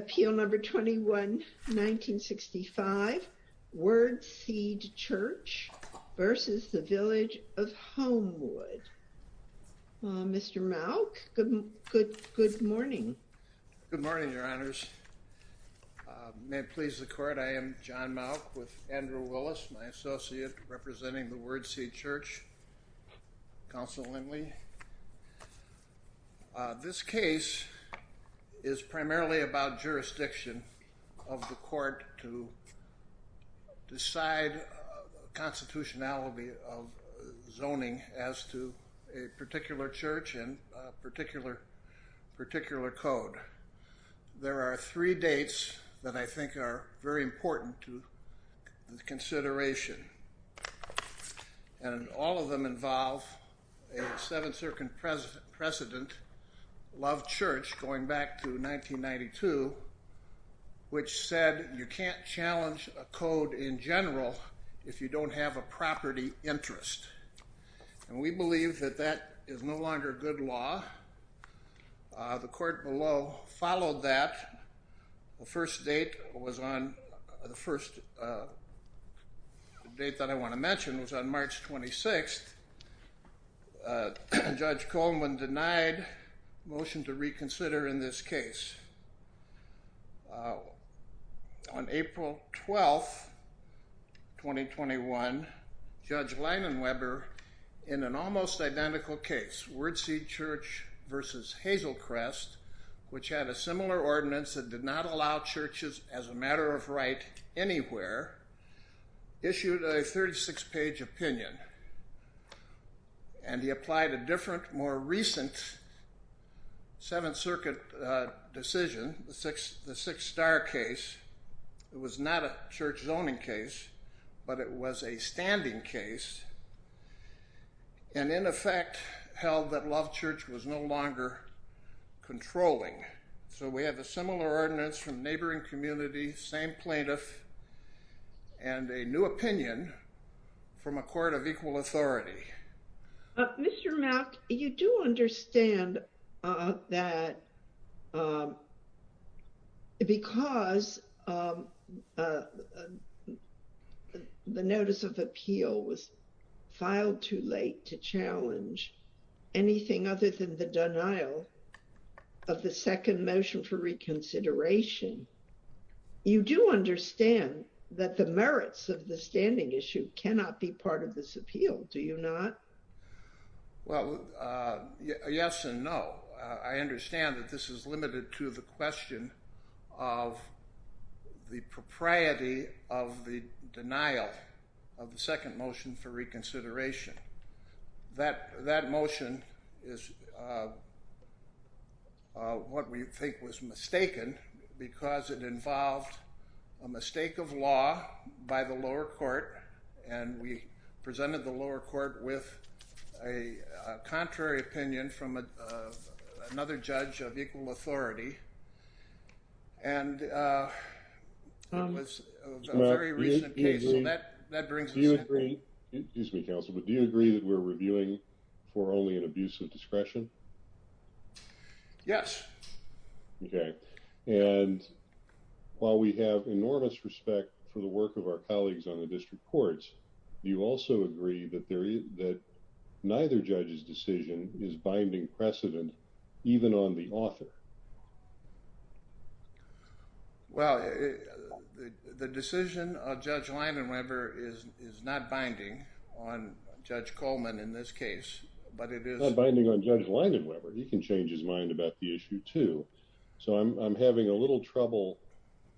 Appeal No. 21-1965 Word Seed Church v. Village of Homewood Mr. Malk, good morning. Good morning, Your Honors. May it please the Court, I am John Malk with Andrew Willis, my associate representing the Word Seed Church, Councilman Lindley. This case is primarily about jurisdiction of the Court to decide constitutionality of zoning as to a particular church and a particular code. There are three dates that I think are very important to consideration, and all of them involve a Seventh Circuit precedent, Love Church, going back to 1992, which said you can't challenge a code in general if you don't have a property interest. We believe that that is no longer good law. The Court below followed that. The first date that I want to mention was on March 26th. Judge Coleman denied motion to reconsider in this case. On April 12th, 2021, Judge Leinenweber, in an almost identical case, Word Seed Church v. Hazelcrest, which had a similar ordinance that did not allow churches as a matter of right anywhere, issued a 36-page opinion, and he applied a different, more recent Seventh Circuit decision, the Six Star case. It was not a church zoning case, but it was a standing case, and in effect held that Love Church was no longer controlling. So we have a similar ordinance from neighboring community, same plaintiff, and a new opinion from a court of equal authority. Mr. Mack, you do understand that because the Notice of Appeal was filed too late to challenge anything other than the denial of the second motion for reconsideration, you do understand that the merits of the standing issue cannot be part of this appeal, do you not? Well, yes and no. I understand that this is limited to the question of the propriety of the denial of the second motion for reconsideration. That motion is what we think was mistaken, because it involved a mistake of law by the lower court, and we presented the lower court with a contrary opinion from another judge of equal authority, and it was a very recent case, so that brings us to the end of it. Excuse me, counsel, but do you agree that we're reviewing for only an abuse of discretion? Yes. Okay. And while we have enormous respect for the work of our colleagues on the district courts, you also agree that neither judge's decision is binding precedent, even on the author? Well, the decision of Judge Leidenweber is not binding on Judge Coleman in this case, but it is... It's not binding on Judge Leidenweber. He can change his mind about the issue too. So I'm having a little trouble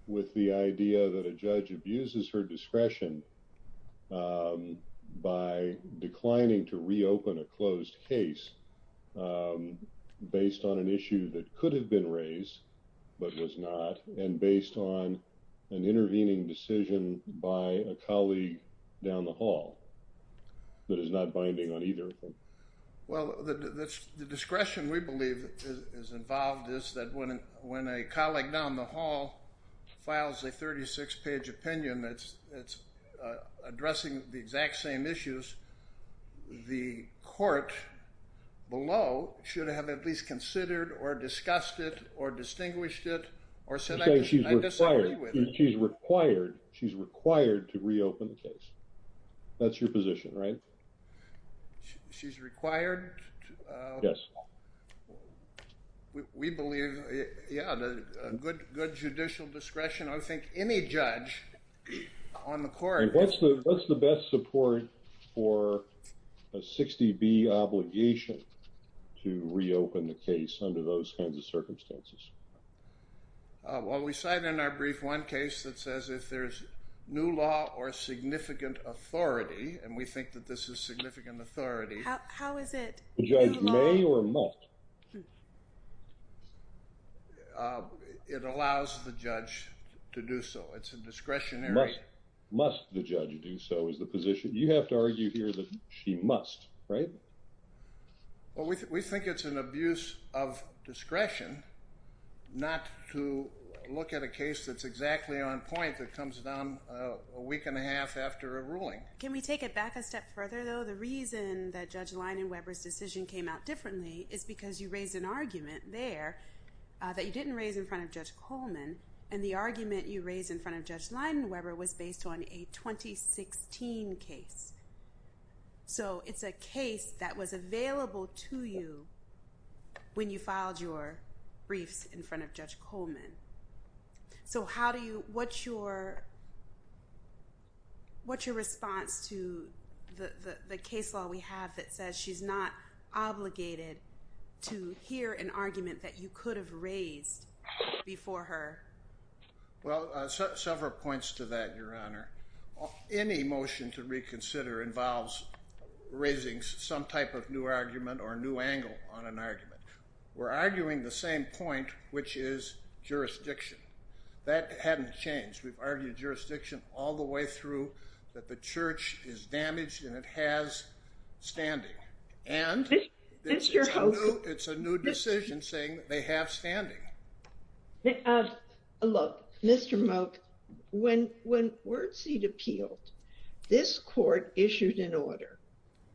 with the idea that a judge abuses her discretion by declining to reopen a closed case based on an issue that could have been raised but was not, and based on an intervening decision by a colleague down the hall that is not binding on either of them. Well, the discretion we believe is involved is that when a colleague down the hall files a 36-page opinion that's addressing the exact same issues, the court below should have at least considered or discussed it or distinguished it or said, I disagree with it. She's required, she's required to reopen the case. That's your position, right? She's required to... Yes. We believe, yeah, good judicial discretion. I think any judge on the court... And what's the best support for a 60B obligation to reopen the case under those kinds of circumstances? Well, we cite in our brief one case that says if there's new law or significant authority, and we think that this is significant authority... How is it? New law? Does the judge may or must? It allows the judge to do so. It's a discretionary... Must the judge do so is the position. You have to argue here that she must, right? We think it's an abuse of discretion not to look at a case that's exactly on point that comes down a week and a half after a ruling. Can we take it back a step further, though? The reason that Judge Leidenweber's decision came out differently is because you raised an argument there that you didn't raise in front of Judge Coleman, and the argument you raised in front of Judge Leidenweber was based on a 2016 case. So it's a case that was available to you when you filed your briefs in front of Judge Coleman. So how do you... what's your response to the case law we have that says she's not obligated to hear an argument that you could have raised before her? Well, several points to that, Your Honor. Any motion to reconsider involves raising some type of new argument or new angle on an argument. We're arguing the same point, which is jurisdiction. That hadn't changed. We've argued jurisdiction all the way through that the church is damaged and it has standing. And it's a new decision saying they have standing. Look, Mr. Moak, when Wurtz had appealed, this court issued an order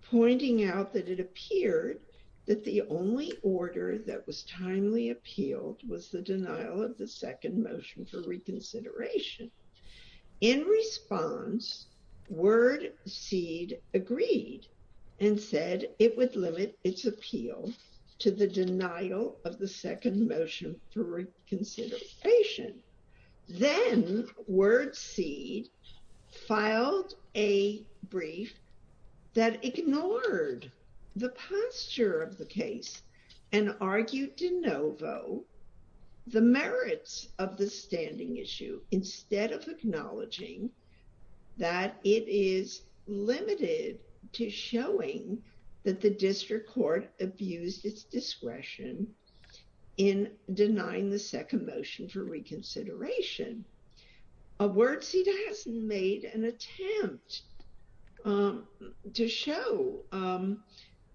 pointing out that it the order that was timely appealed was the denial of the second motion for reconsideration. In response, Wurtz agreed and said it would limit its appeal to the denial of the second motion for reconsideration. Then Wurtz filed a brief that ignored the posture of the case and argued de novo the merits of the standing issue instead of acknowledging that it is limited to showing that the district court abused its discretion in denying the second motion for reconsideration. Wurtz has made an attempt to show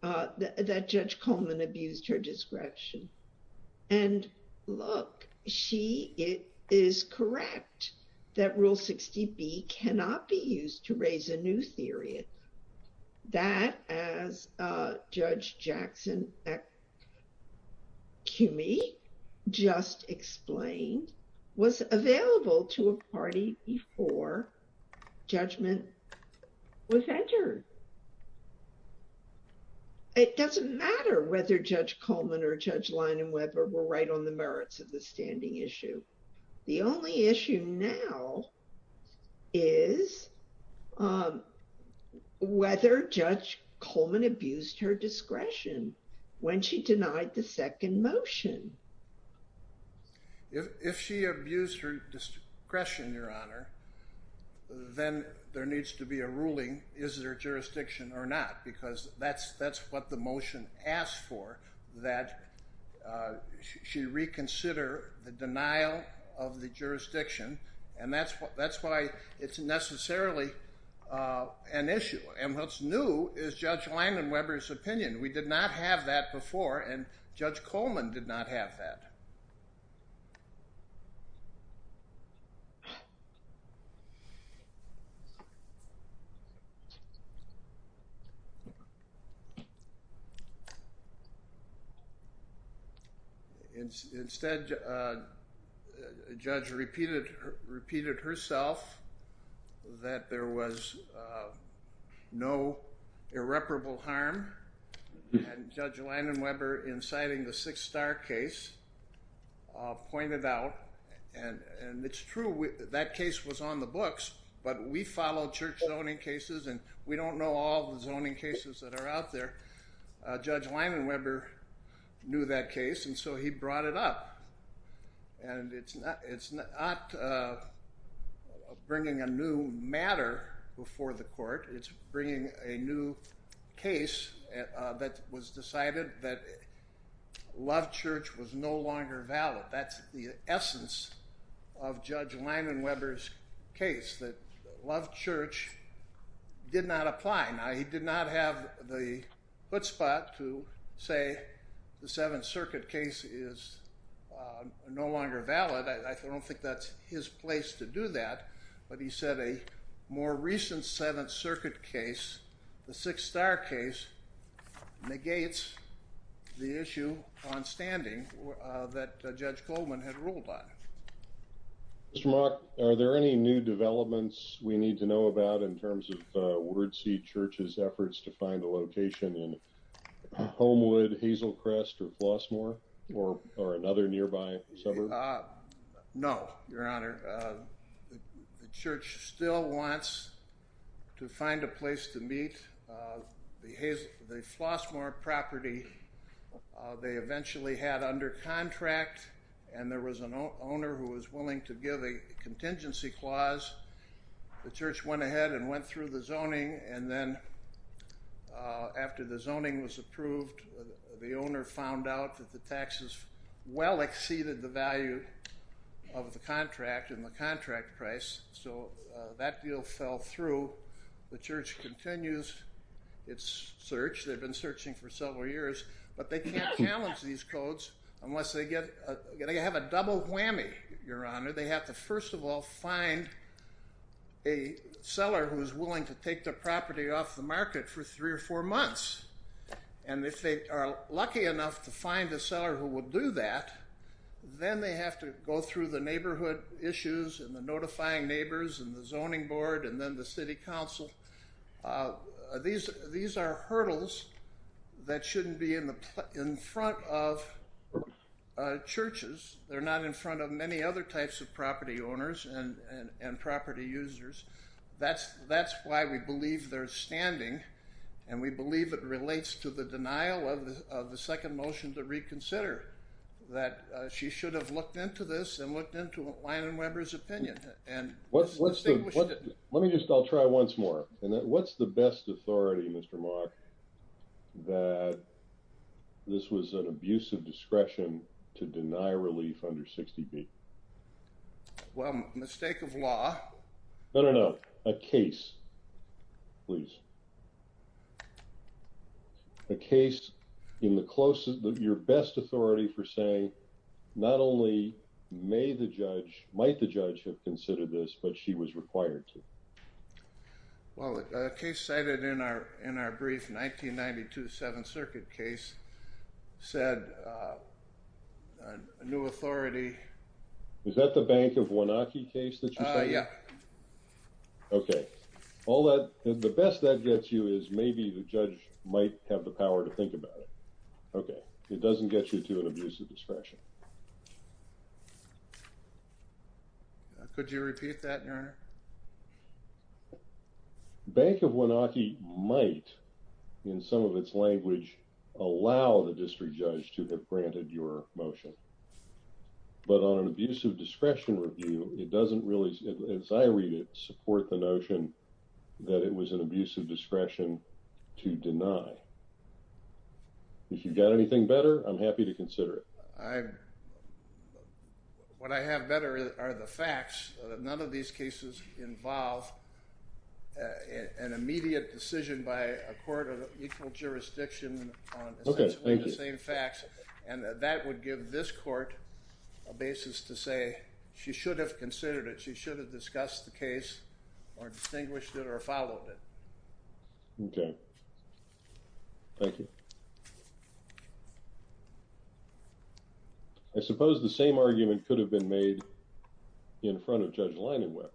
that Judge Coleman abused her discretion. And look, she is correct that Rule 60B cannot be used to raise a new theory. That, as Judge Jackson Cumey just explained, was available to a party before judgment was entered. It doesn't matter whether Judge Coleman or Judge Leinenweber were right on the merits of the standing issue. The only issue now is whether Judge Coleman abused her discretion when she denied the second motion. If she abused her discretion, Your Honor, then there needs to be a ruling, is there of the jurisdiction, and that's why it's necessarily an issue. And what's new is Judge Leinenweber's opinion. We did not have that before, and Judge Coleman did not have that. Instead, Judge repeated herself that there was no irreparable harm in Judge Leinenweber inciting the Six Star case, pointed out, and it's true, that case was on the books, but we follow church zoning cases and we don't know all the zoning cases that are out there. Judge Leinenweber knew that case, and so he brought it up. And it's not bringing a new matter before the court, it's bringing a new case that was that Loved Church was no longer valid. That's the essence of Judge Leinenweber's case, that Loved Church did not apply. Now, he did not have the hootspot to say the Seventh Circuit case is no longer valid. I don't think that's his place to do that, but he said a more recent Seventh Circuit case, the Six Star case, negates the issue on standing that Judge Coleman had ruled on. Mr. Mock, are there any new developments we need to know about in terms of Wordseed Church's efforts to find a location in Homewood, Hazelcrest, or Flossmoor, or another nearby suburb? No, Your Honor. The Church still wants to find a place to meet. The Flossmoor property they eventually had under contract, and there was an owner who was willing to give a contingency clause. The Church went ahead and went through the zoning, and then after the zoning was approved, the owner found out that the taxes well exceeded the value of the contract and the contract price, so that deal fell through. The Church continues its search. They've been searching for several years, but they can't challenge these codes unless they get a—they have a double whammy, Your Honor. They have to first of all find a seller who is willing to take the property off the market for three or four months, and if they are lucky enough to find a seller who will do that, then they have to go through the neighborhood issues and the notifying neighbors and the zoning board and then the city council. These are hurdles that shouldn't be in front of churches. They're not in front of many other types of property owners and property users. That's why we believe they're standing, and we believe it relates to the denial of the second motion to reconsider, that she should have looked into this and looked into Lyon and Weber's opinion. Let me just—I'll try once more. What's the best authority, Mr. Mark, that this was an abuse of discretion to deny relief under 60B? Well, mistake of law. No, no, no. A case, please. A case in the closest—your best authority for saying, not only may the judge—might the judge have considered this, but she was required to. Well, a case cited in our brief, 1992 Seventh Circuit case, said a new authority— Is that the Bank of Wanaki case that you cited? Yeah. Okay. All that—the best that gets you is maybe the judge might have the power to think about it. Okay. It doesn't get you to an abuse of discretion. Could you repeat that, Your Honor? Bank of Wanaki might, in some of its language, allow the district judge to have granted your motion. But on an abuse of discretion review, it doesn't really, as I read it, support the notion that it was an abuse of discretion to deny. If you've got anything better, I'm happy to consider it. What I have better are the facts that none of these cases involve an immediate decision by a court of equal jurisdiction on essentially the same facts, and that would give this court a basis to say she should have considered it, she should have discussed the case or distinguished it or followed it. Okay. Thank you. I suppose the same argument could have been made in front of Judge Leinenweber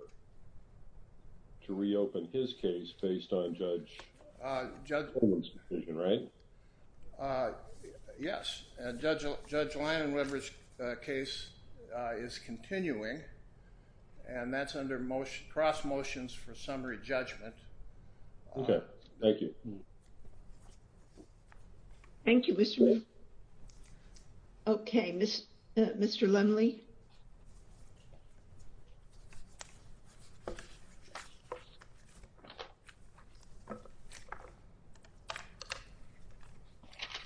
to reopen his case based on Judge Coleman's decision, right? Yes. Judge Leinenweber's case is continuing, and that's under cross-motions for summary judgment. Okay. Thank you. Thank you, Mr. Lee. Okay. Mr. Lumley?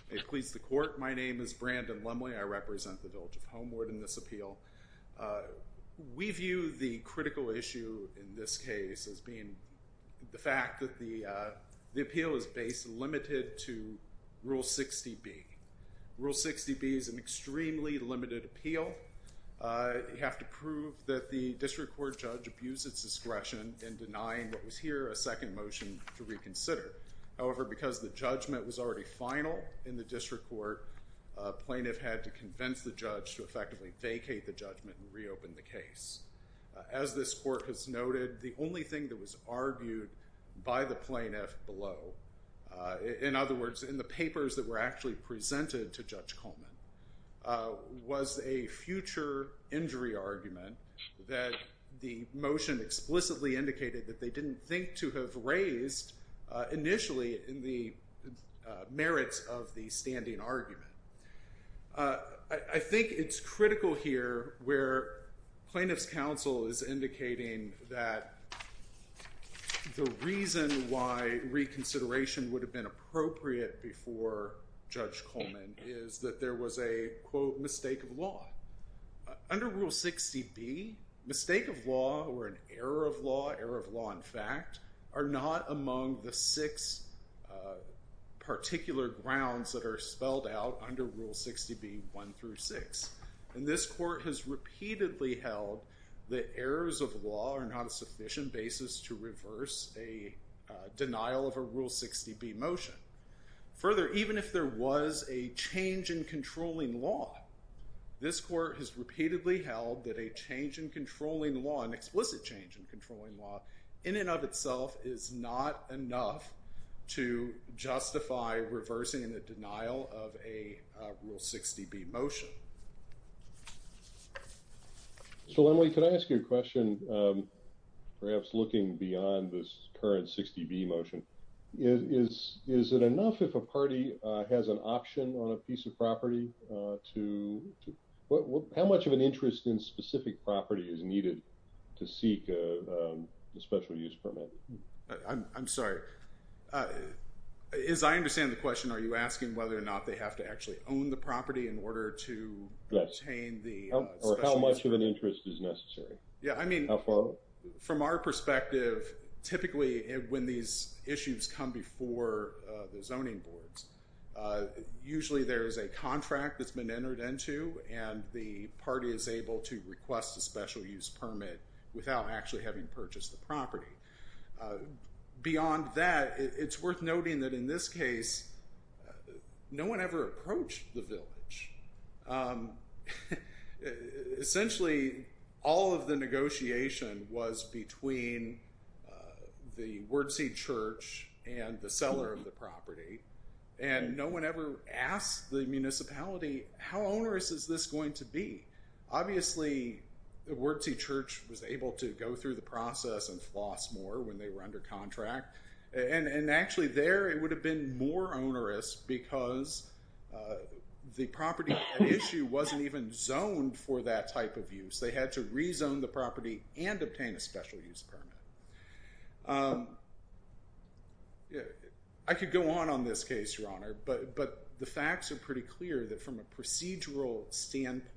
May it please the Court, my name is Brandon Lumley. I represent the Village of Homeward in this appeal. We view the critical issue in this case as being the fact that the appeal is based, limited to Rule 60B. Rule 60B is an extremely limited appeal. You have to prove that the district court judge abused its discretion in denying what was here a second motion to reconsider. However, because the judgment was already final in the district court, a plaintiff had to convince the judge to effectively vacate the judgment and reopen the case. As this court has noted, the only thing that was argued by the plaintiff below, in other words, presented to Judge Coleman, was a future injury argument that the motion explicitly indicated that they didn't think to have raised initially in the merits of the standing argument. I think it's critical here where plaintiff's counsel is indicating that the reason why there was a future injury argument is that there was a, quote, mistake of law. Under Rule 60B, mistake of law or an error of law, error of law in fact, are not among the six particular grounds that are spelled out under Rule 60B, 1 through 6. And this court has repeatedly held that errors of law are not a sufficient basis to reverse a denial of a Rule 60B motion. Further, even if there was a change in controlling law, this court has repeatedly held that a change in controlling law, an explicit change in controlling law, in and of itself is not enough to justify reversing the denial of a Rule 60B motion. So, Emily, could I ask you a question, perhaps looking beyond this current 60B motion? Is it enough if a party has an option on a piece of property to, how much of an interest in specific property is needed to seek a special use permit? I'm sorry. As I understand the question, are you asking whether or not they have to actually own the property in order to obtain the special use permit? Or how much of an interest is necessary? Yeah, I mean. How far? Well, from our perspective, typically when these issues come before the zoning boards, usually there is a contract that's been entered into, and the party is able to request a special use permit without actually having purchased the property. Beyond that, it's worth noting that in this case, no one ever approached the village. Essentially, all of the negotiation was between the Wordseed Church and the seller of the property, and no one ever asked the municipality, how onerous is this going to be? Obviously, the Wordseed Church was able to go through the process and floss more when they were under contract. And actually there, it would have been more onerous because the property at issue wasn't even zoned for that type of use. They had to rezone the property and obtain a special use permit. I could go on on this case, Your Honor, but the facts are pretty clear that from a procedural standpoint,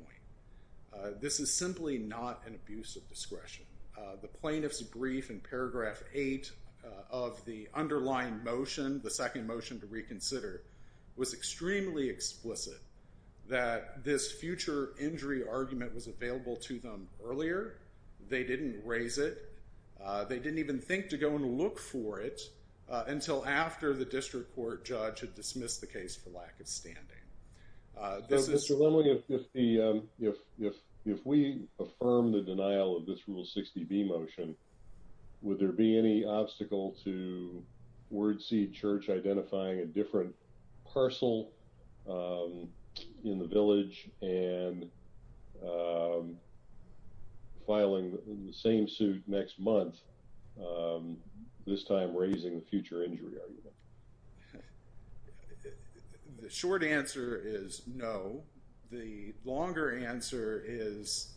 this is simply not an abuse of discretion. The plaintiff's brief in paragraph 8 of the underlying motion, the second motion to reconsider, was extremely explicit that this future injury argument was available to them earlier. They didn't raise it. They didn't even think to go and look for it until after the district court judge had dismissed the case for lack of standing. Mr. Lemling, if we affirm the denial of this Rule 60B motion, would there be any obstacle to Wordseed Church identifying a different parcel in the village and filing the same suit next month, this time raising the future injury argument? The short answer is no. The longer answer is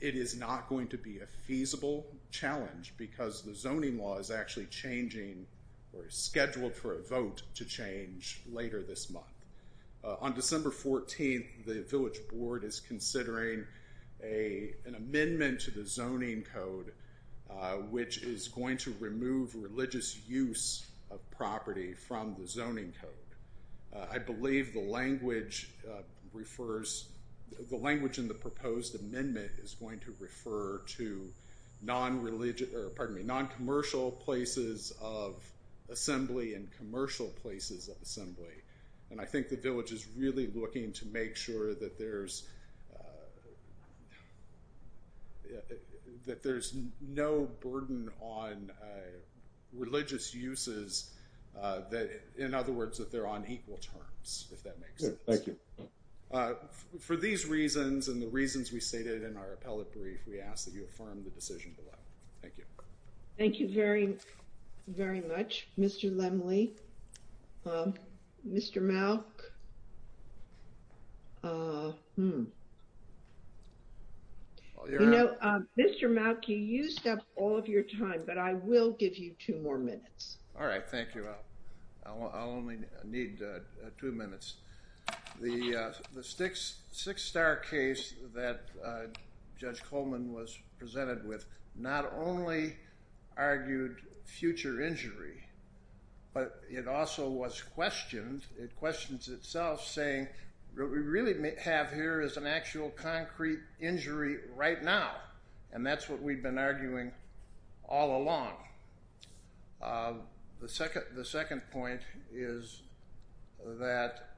it is not going to be a feasible challenge because the zoning law is actually changing or is scheduled for a vote to change later this month. On December 14th, the village board is considering an amendment to the zoning code, which is to remove religious use of property from the zoning code. I believe the language in the proposed amendment is going to refer to non-commercial places of assembly and commercial places of assembly, and I think the village is really looking to make sure that there's no burden on religious uses, in other words, that they're on equal terms, if that makes sense. For these reasons and the reasons we stated in our appellate brief, we ask that you affirm the decision below. Thank you. Thank you very, very much, Mr. Lemling. Mr. Malk, you know, Mr. Malk, you used up all of your time, but I will give you two more minutes. All right. Thank you. I'll only need two minutes. The six-star case that Judge Coleman was presented with not only argued future injury, but it also was questioned. It questions itself, saying what we really have here is an actual concrete injury right now, and that's what we've been arguing all along. The second point is that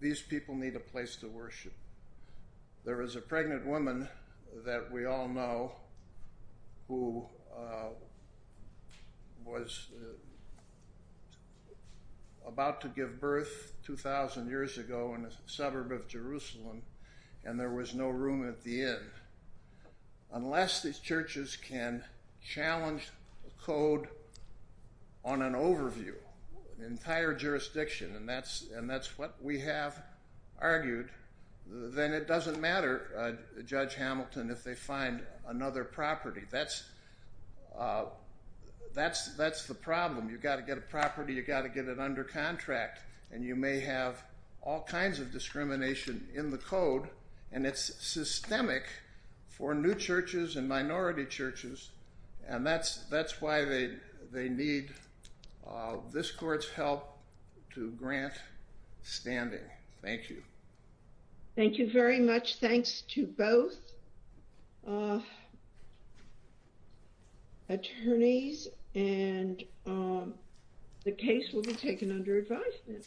these people need a place to worship. There is a pregnant woman that we all know who was about to give birth 2,000 years ago in a suburb of Jerusalem, and there was no room at the inn. Unless these churches can challenge the code on an overview, an entire jurisdiction, and that's what we have argued, then it doesn't matter, Judge Hamilton, if they find another property. That's the problem. You've got to get a property, you've got to get it under contract, and you may have all for new churches and minority churches, and that's why they need this court's help to grant standing. Thank you. Thank you very much. Thanks to both attorneys, and the case will be taken under advisement.